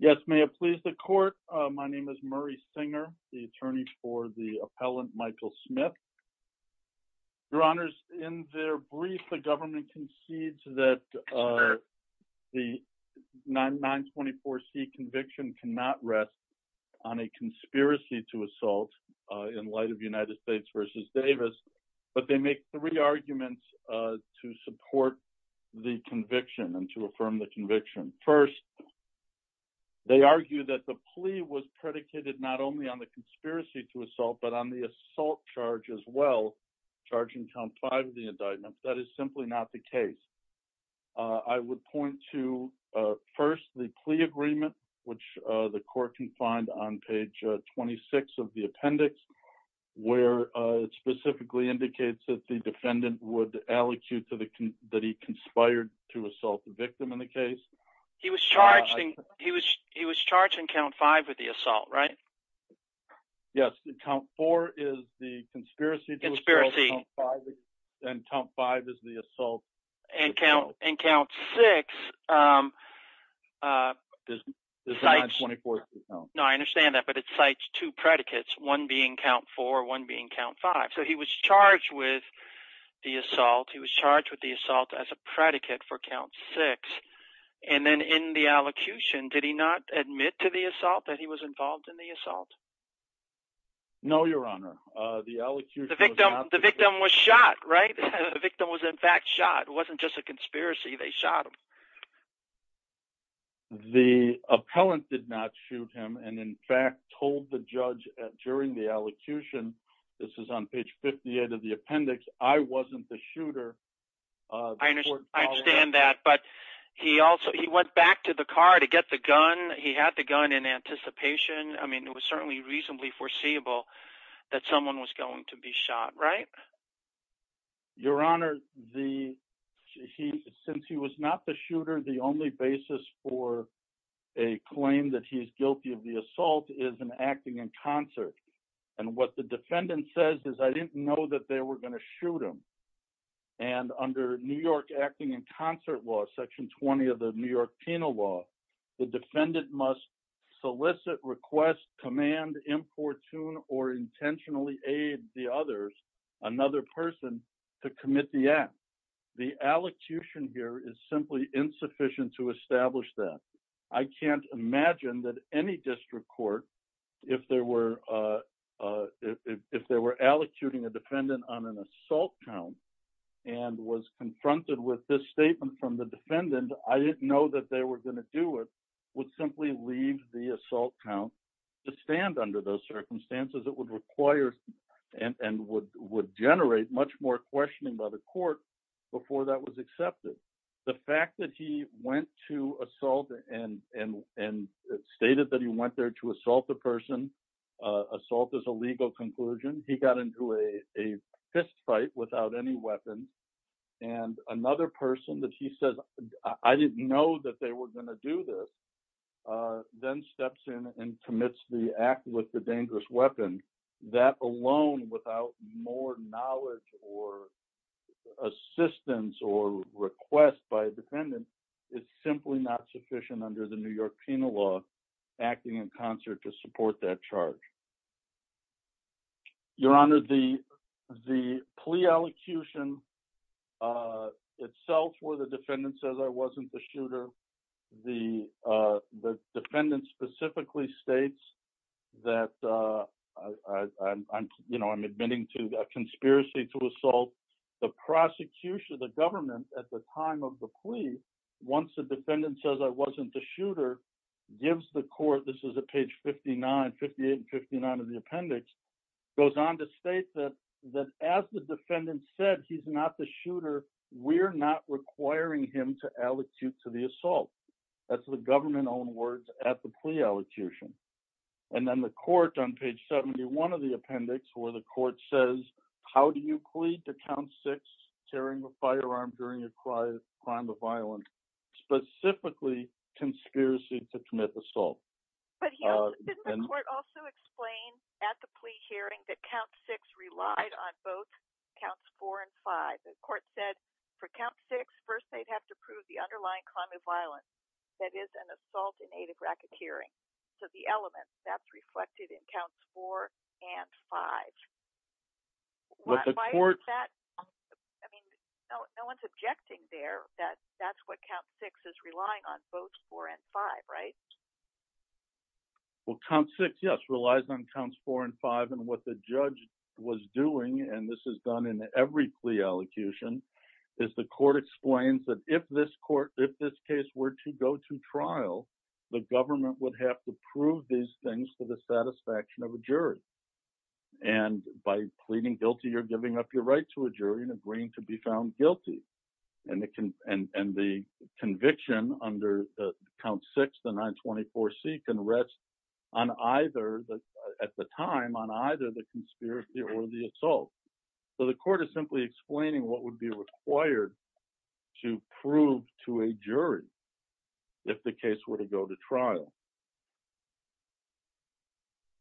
Yes, may it please the court, my name is Murray Singer, the attorney for the appellant Michael Smith. Your honors, in their brief, the government concedes that the 924C conviction cannot rest on a conspiracy to assault in light of United States v. Davis, but they make three arguments to support the conviction and to affirm the conviction. First, they argue that the plea was predicated not only on the conspiracy to assault, but on the assault charge as well, charging count five of the indictment. That is simply not the case. I would point to first the plea agreement, which the court can find on page 26 of the appendix, where it specifically indicates that the defendant would allecute that he conspired to assault the victim in the case. He was charged in count five with the assault, right? Yes, count four is the conspiracy to assault, and count five is the assault. And count six, no, I understand that, but it cites two predicates, one being count four, one being count five. So he was charged with the assault. He was charged with the assault as a predicate for count six. And then in the allocution, did he not admit to the assault that he was involved in the assault? No, your honor, the victim was shot, right? The victim was in fact shot, it wasn't just a conspiracy, they shot him. The appellant did not shoot him, and in fact told the judge during the allocution, this is on page 58 of the appendix, I wasn't the shooter. I understand that, but he also, he went back to the car to get the gun. He had the gun in anticipation. I mean, it was certainly reasonably foreseeable that someone was going to be shot, right? But your honor, since he was not the shooter, the only basis for a claim that he's guilty of the assault is an acting in concert. And what the defendant says is, I didn't know that they were going to shoot him. And under New York acting in concert law, section 20 of the New York penal law, the defendant must solicit, request, command, importune, or intentionally aid the others another person to commit the act. The allocution here is simply insufficient to establish that. I can't imagine that any district court, if they were allocuting a defendant on an assault count, and was confronted with this statement from the defendant, I didn't know that they were going to do it, would simply leave the assault count to stand under those circumstances. It would require and would generate much more questioning by the court before that was accepted. The fact that he went to assault and stated that he went there to assault the person, assault is a legal conclusion. He got into a fist fight without any weapon. And another person that he says, I didn't know that they were going to do this, then steps in and commits the act with the dangerous weapon, that alone without more knowledge or assistance or request by a defendant, it's simply not sufficient under the New York penal law, acting in concert to support that charge. Your Honor, the plea allocution itself where the defendant says I wasn't the shooter, the defendant specifically states that I'm admitting to a conspiracy to assault, the prosecution of the government at the time of the plea, once the defendant says I wasn't the shooter, gives the court, this is at page 59, 58 and 59 of the appendix, goes on to state that as the defendant said he's not the shooter, we're not requiring him to allocute to the assault. That's the government-owned words at the plea allocution. And then the court on page 71 of the appendix where the court says, how do you plead to count six, tearing the firearm during a crime of violence, specifically conspiracy to commit assault. But didn't the court also explain at the plea hearing that count six relied on both counts four and five? The court said for count six, first they'd have to prove the underlying crime of violence, that is an assault in aid of racketeering. So the element that's reflected in counts four and five. I mean, no one's objecting there that that's what count six is relying on both four and five, right? Well, count six, yes, relies on counts four and five and what the judge was doing, and this is done in every plea allocution, is the court explains that if this case were to go to trial, the government would have to prove these things for the satisfaction of a jury. And by pleading guilty, you're giving up your right to a jury and agreeing to be found guilty. And the conviction under count six, the 924C can rest on either, at the time, on either the conspiracy or the assault. So the court is simply explaining what would be required to prove to a jury if the case were to go to trial.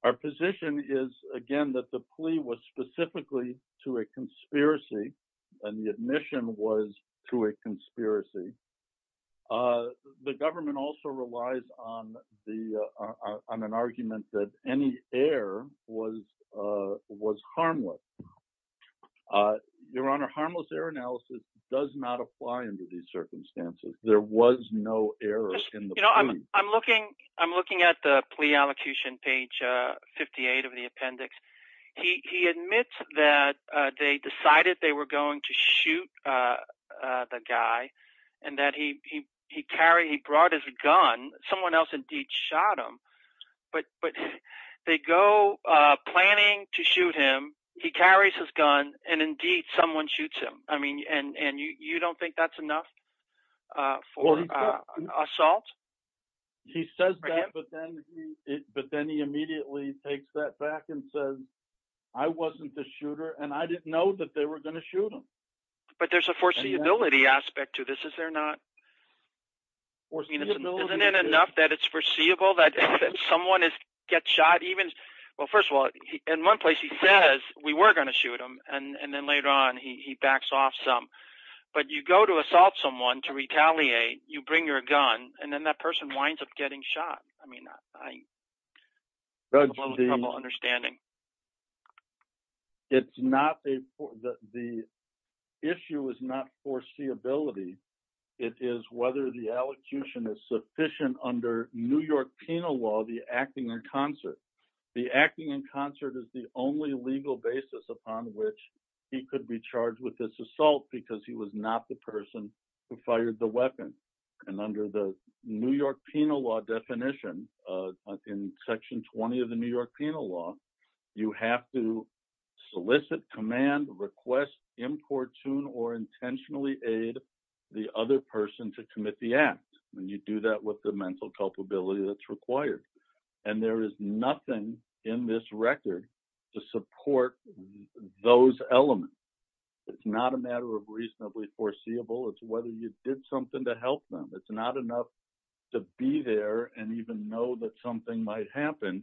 Our position is, again, that the plea was specifically to a conspiracy, and the admission was to a conspiracy. The government also relies on an argument that any error was harmless. Your Honor, harmless error analysis does not apply under these circumstances. There was no error in the plea. I'm looking at the plea allocution, page 58 of the appendix. He admits that they decided they were going to shoot the guy, and that he carried, he brought his gun. Someone else, indeed, shot him. But they go planning to shoot him. He carries his gun, and, indeed, someone shoots him. I mean, and you don't think that's enough for assault? He says that, but then he immediately takes that back and says, I wasn't the shooter, and I didn't know that they were going to shoot him. But there's a foreseeability aspect to this, is there not? Isn't it enough that it's foreseeable that someone gets shot? Well, first of all, in one place, he says we were going to shoot him, and then later on, he backs off some. But you go to assault someone to retaliate, you bring your gun, and then that person winds up getting shot. I mean, I have a little trouble understanding. It's not a, the issue is not foreseeability. It is whether the allocution is sufficient under New York penal law, the acting in concert. The acting in concert is the only legal basis upon which he could be charged with this assault, because he was not the person who fired the weapon. And under the New York penal law definition, in section 20 of the New York penal law, you have to solicit, command, request, importune, or intentionally aid the other person to commit the act. And you do that with the mental culpability that's required. And there is nothing in this record to support those elements. It's not a matter of reasonably foreseeable. It's whether you did something to help them. It's not enough to be there and even know that something might happen.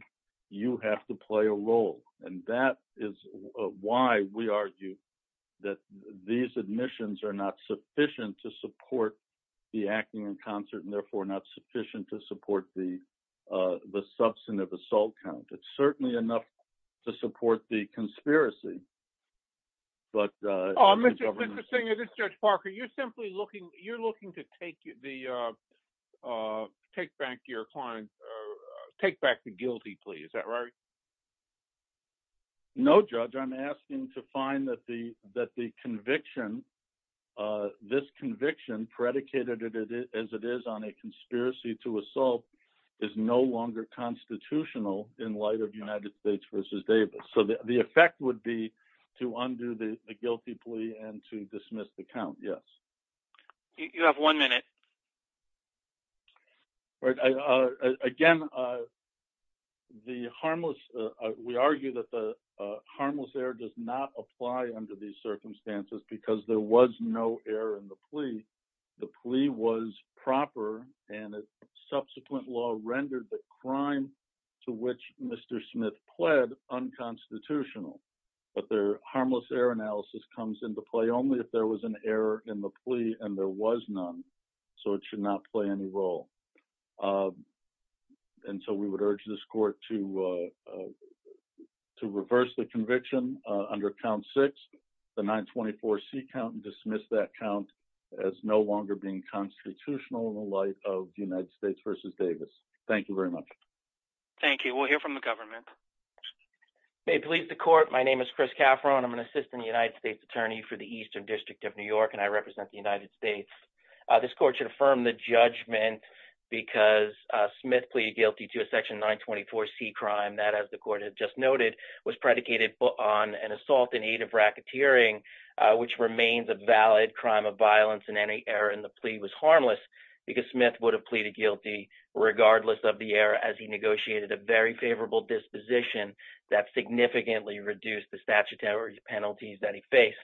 You have to play a role. And that is why we argue that these admissions are not sufficient to support the acting in concert, and therefore not sufficient to support the substantive assault count. It's certainly enough to support the conspiracy. But... Oh, Mr. Singer, this is Judge Parker. You're simply looking, you're looking to take the, uh, take back your client, take back the guilty plea. Is that right? No, Judge. I'm asking to find that the conviction, this conviction, predicated as it is on a conspiracy to assault, is no longer constitutional in light of United States v. Davis. So the effect would be to undo the guilty plea and to dismiss the count, yes. You have one minute. All right. I, uh, again, uh, the harmless, uh, we argue that the, uh, harmless error does not apply under these circumstances because there was no error in the plea. The plea was proper and its subsequent law rendered the crime to which Mr. Smith pled unconstitutional. But their harmless error analysis comes into play only if there was an error in the plea and there was none. So it should not play any role, uh, until we would urge this court to, uh, uh, to reverse the conviction, uh, under count six, the 924C count and dismiss that count as no longer being constitutional in the light of United States v. Davis. Thank you very much. Thank you. We'll hear from the government. May it please the court. My name is Chris Cafferon. I'm an assistant United States attorney for the Eastern District of New York, and I represent the United States. This court should affirm the judgment because, uh, Smith pleaded guilty to a section 924C crime that, as the court had just noted, was predicated on an assault in aid of racketeering, uh, which remains a valid crime of violence in any error in the plea was harmless because Smith would have pleaded guilty regardless of the error as he negotiated a very favorable disposition that significantly reduced the statutory penalties that he faced.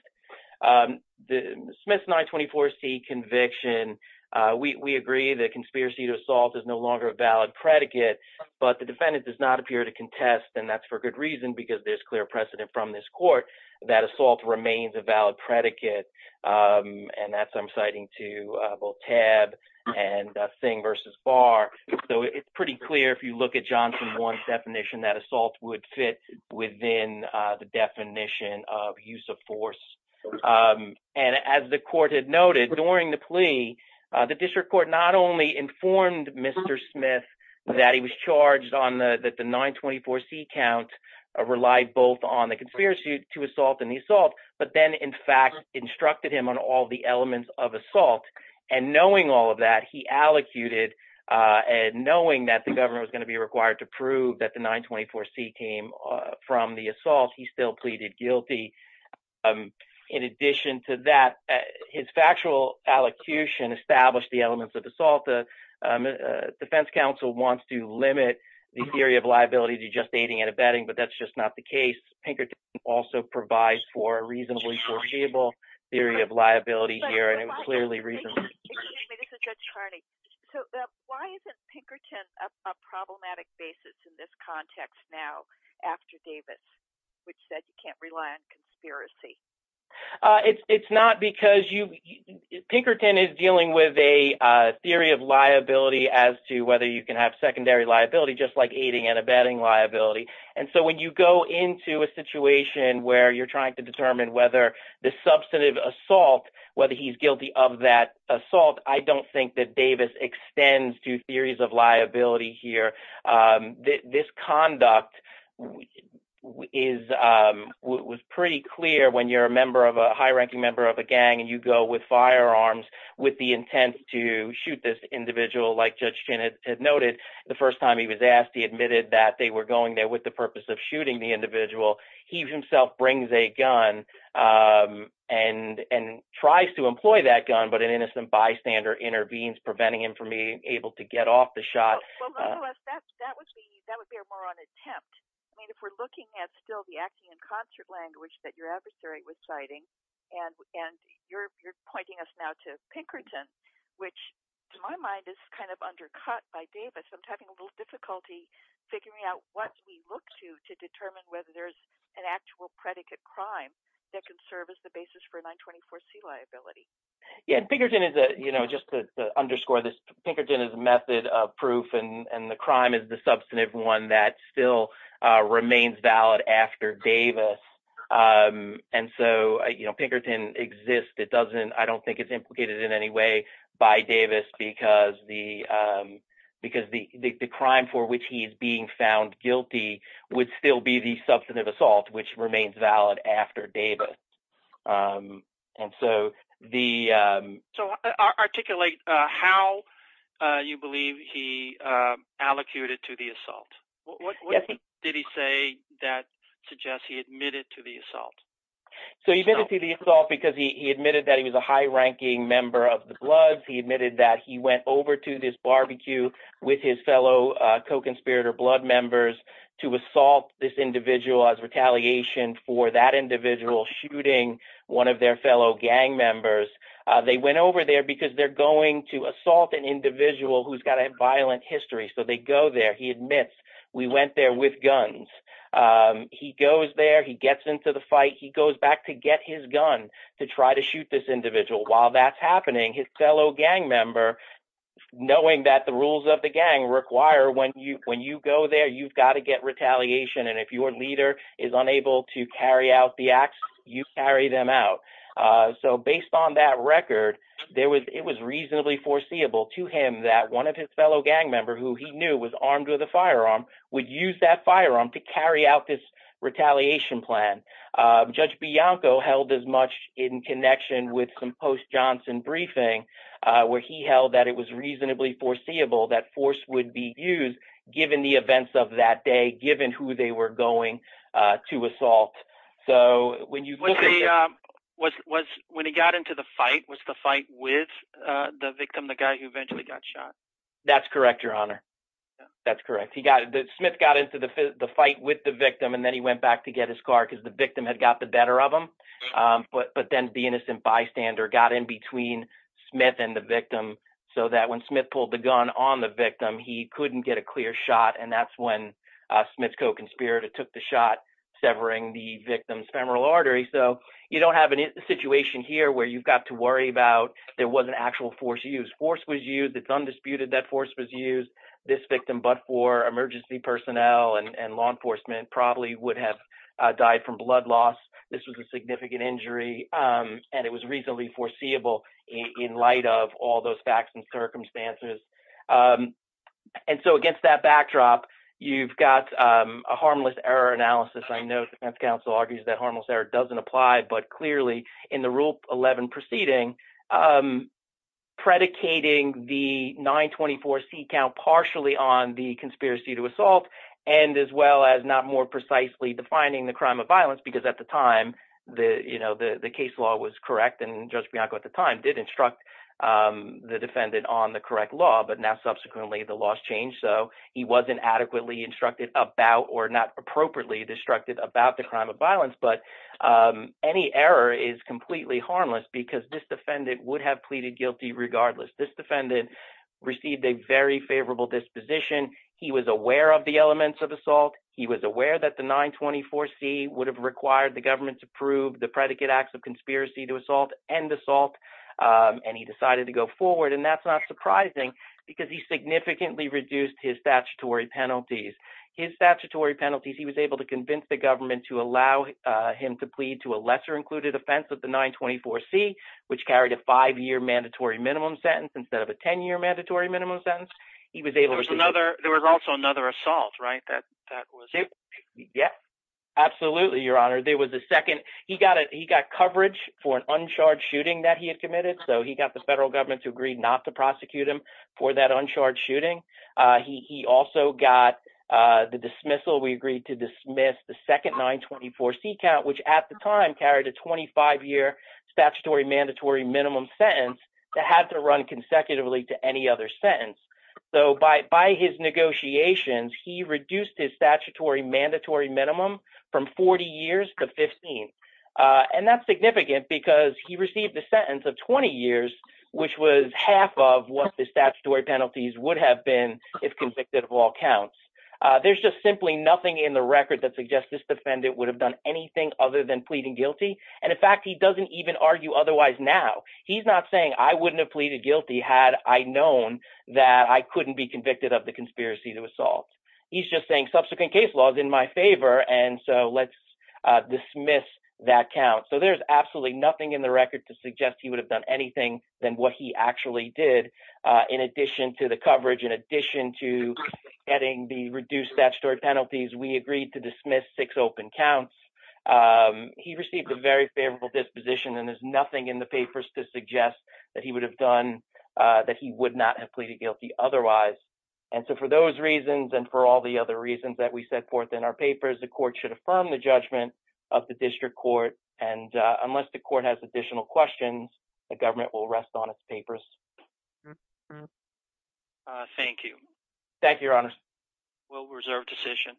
Um, the Smith 924C conviction, uh, we, we agree that conspiracy to assault is no longer a valid predicate, but the defendant does not appear to contest. And that's for good reason, because there's clear precedent from this court that assault remains a valid predicate. Um, and that's, I'm citing to, uh, both tab and a thing versus bar. So it's pretty clear. If you look at Johnson one definition, that assault would fit within, uh, the definition of use of force. Um, and as the court had noted during the plea, uh, the district court, not only informed Mr. Smith that he was charged on the, that the 924C count, uh, relied both on the conspiracy to assault and the assault, but then in fact instructed him on all the elements of assault. And knowing all of that, he allocated, uh, and knowing that the governor was going to be required to prove that the 924C came from the assault, he still pleaded guilty. Um, in addition to that, uh, his factual allocution established the elements of assault. The, um, uh, defense counsel wants to limit the theory of liability to just aiding and abetting, but that's just not the case. Pinkerton also provides for a reasonably foreseeable theory of liability here. And it was clearly reasonable. Excuse me, this is Judge Harney. So, uh, why isn't Pinkerton a problematic basis in this context now after Davis, which said you can't rely on conspiracy? Uh, it's, it's not because you, Pinkerton is dealing with a, uh, theory of liability as to whether you can have secondary liability, just like aiding and abetting liability. And so when you go into a situation where you're trying to determine whether the substantive assault, whether he's guilty of that assault, I don't think that Davis extends to theories of liability here. Um, this, this conduct is, um, was pretty clear when you're a member of a high ranking member of a gang and you go with firearms with the intent to shoot this individual, like Judge Chin had noted the first time he was asked, he admitted that they were going there with the purpose of shooting the individual. He himself brings a gun, um, and, and tries to employ that gun, but an innocent bystander intervenes, preventing him from being able to get off the shot. Well, nonetheless, that, that would be, that would be a moron attempt. I mean, if we're looking at still the acting in concert language that your adversary was citing and, and you're, you're pointing us now to Pinkerton, which to my mind is kind of undercut by Davis. I'm having a little difficulty figuring out what we look to, to determine whether there's an actual predicate crime that can serve as the basis for a 924 C liability. Yeah. And Pinkerton is a, you know, just to underscore this Pinkerton is a method of proof and the crime is the substantive one that still, uh, remains valid after Davis. Um, and so, uh, you know, Pinkerton exists. It doesn't, I don't think it's implicated in any way by Davis because the, um, because the crime for which he's being found guilty would still be the substantive assault, which remains valid after Davis. Um, and so the, um, so articulate, uh, how, uh, you believe he, um, allocated to the assault. What did he say that suggests he admitted to the assault? So he admitted to the assault because he admitted that he was a high ranking member of the Bloods. He admitted that he went over to this barbecue with his fellow, uh, co-conspirator blood members to assault this individual as retaliation for that individual shooting one of their fellow gang members. Uh, they went over there because they're going to assault an individual who's got a violent history. So they go there. He admits we went there with guns. Um, he goes there, he gets into the fight. He goes back to get his gun to try to shoot this individual while that's happening. His fellow gang member, knowing that the rules of the gang require when you, when you go there, you've got to get retaliation. And if your leader is unable to carry out the acts, you carry them out. Uh, so based on that record, there was, it was reasonably foreseeable to him that one of his fellow gang member who he knew was armed with a firearm would use that firearm to carry out this retaliation plan. Judge Bianco held as much in connection with some post Johnson briefing, uh, where he held that it was reasonably foreseeable that force would be used given the events of that day, given who they were going, uh, to assault. So when you look at the, um, was, was, when he got into the fight, was the fight with, uh, the victim, the guy who eventually got shot. That's correct. Your honor. That's correct. He got it. Smith got into the fight with the victim and then he went back to get his car because the victim had got the better of them. Um, but, but then the innocent bystander got in between Smith and the victim. So that when Smith pulled the gun on the victim, he couldn't get a clear shot. And that's when, uh, Smith's co-conspirator took the shot severing the victim's femoral artery. So you don't have any situation here where you've got to worry about, there wasn't actual force use force was used. It's undisputed that force was used this victim, but for emergency personnel and law enforcement probably would have died from blood loss. This was a significant injury. Um, and it was reasonably foreseeable in light of all those facts and circumstances. Um, and so against that backdrop, you've got, um, a harmless error analysis. I know the defense counsel argues that harmless error doesn't apply, but clearly in the rule 11 proceeding, um, predicating the nine 24 seat count partially on the conspiracy to and as well as not more precisely defining the crime of violence, because at the time the, you know, the, the case law was correct. And judge Bianco at the time did instruct, um, the defendant on the correct law, but now subsequently the laws changed. So he wasn't adequately instructed about, or not appropriately distracted about the crime of violence, but, um, any error is completely harmless because this defendant would have pleaded guilty. Regardless, this defendant received a very favorable disposition. He was aware of the elements of assault. He was aware that the nine 24 seat would have required the government to prove the predicate acts of conspiracy to assault and assault. Um, and he decided to go forward and that's not surprising because he significantly reduced his statutory penalties, his statutory penalties. He was able to convince the government to allow him to plead to a lesser included offense of the nine 24 seat, which carried a five year mandatory minimum sentence instead of a 10 year mandatory minimum sentence. He was able to another, there was also another assault, right? That, that was it. Yeah, absolutely. Your honor, there was a second, he got it. He got coverage for an uncharged shooting that he had committed. So he got the federal government to agree not to prosecute him for that uncharged shooting. Uh, he, he also got, uh, the dismissal. We agreed to dismiss the second nine 24 seat count, which at the time carried a 25 year statutory mandatory minimum sentence that had to run consecutively to any other sentence. So by, by his negotiations, he reduced his statutory mandatory minimum from 40 years to 15. Uh, and that's significant because he received the sentence of 20 years, which was half of what the statutory penalties would have been if convicted of all counts. Uh, there's just simply nothing in the record that suggests this defendant would have done anything other than pleading guilty. And in fact, he doesn't even argue otherwise. He's not saying I wouldn't have pleaded guilty had I known that I couldn't be convicted of the conspiracy to assault. He's just saying subsequent case laws in my favor. And so let's dismiss that count. So there's absolutely nothing in the record to suggest he would have done anything than what he actually did. Uh, in addition to the coverage, in addition to getting the reduced statutory penalties, we agreed to dismiss six open counts. Um, he received a very favorable disposition and there's nothing in the papers to suggest that he would have done, uh, that he would not have pleaded guilty otherwise. And so for those reasons, and for all the other reasons that we set forth in our papers, the court should affirm the judgment of the district court. And, uh, unless the court has additional questions, the government will rest on its papers. Uh, thank you. Thank you, your honor. Well, we reserve decision.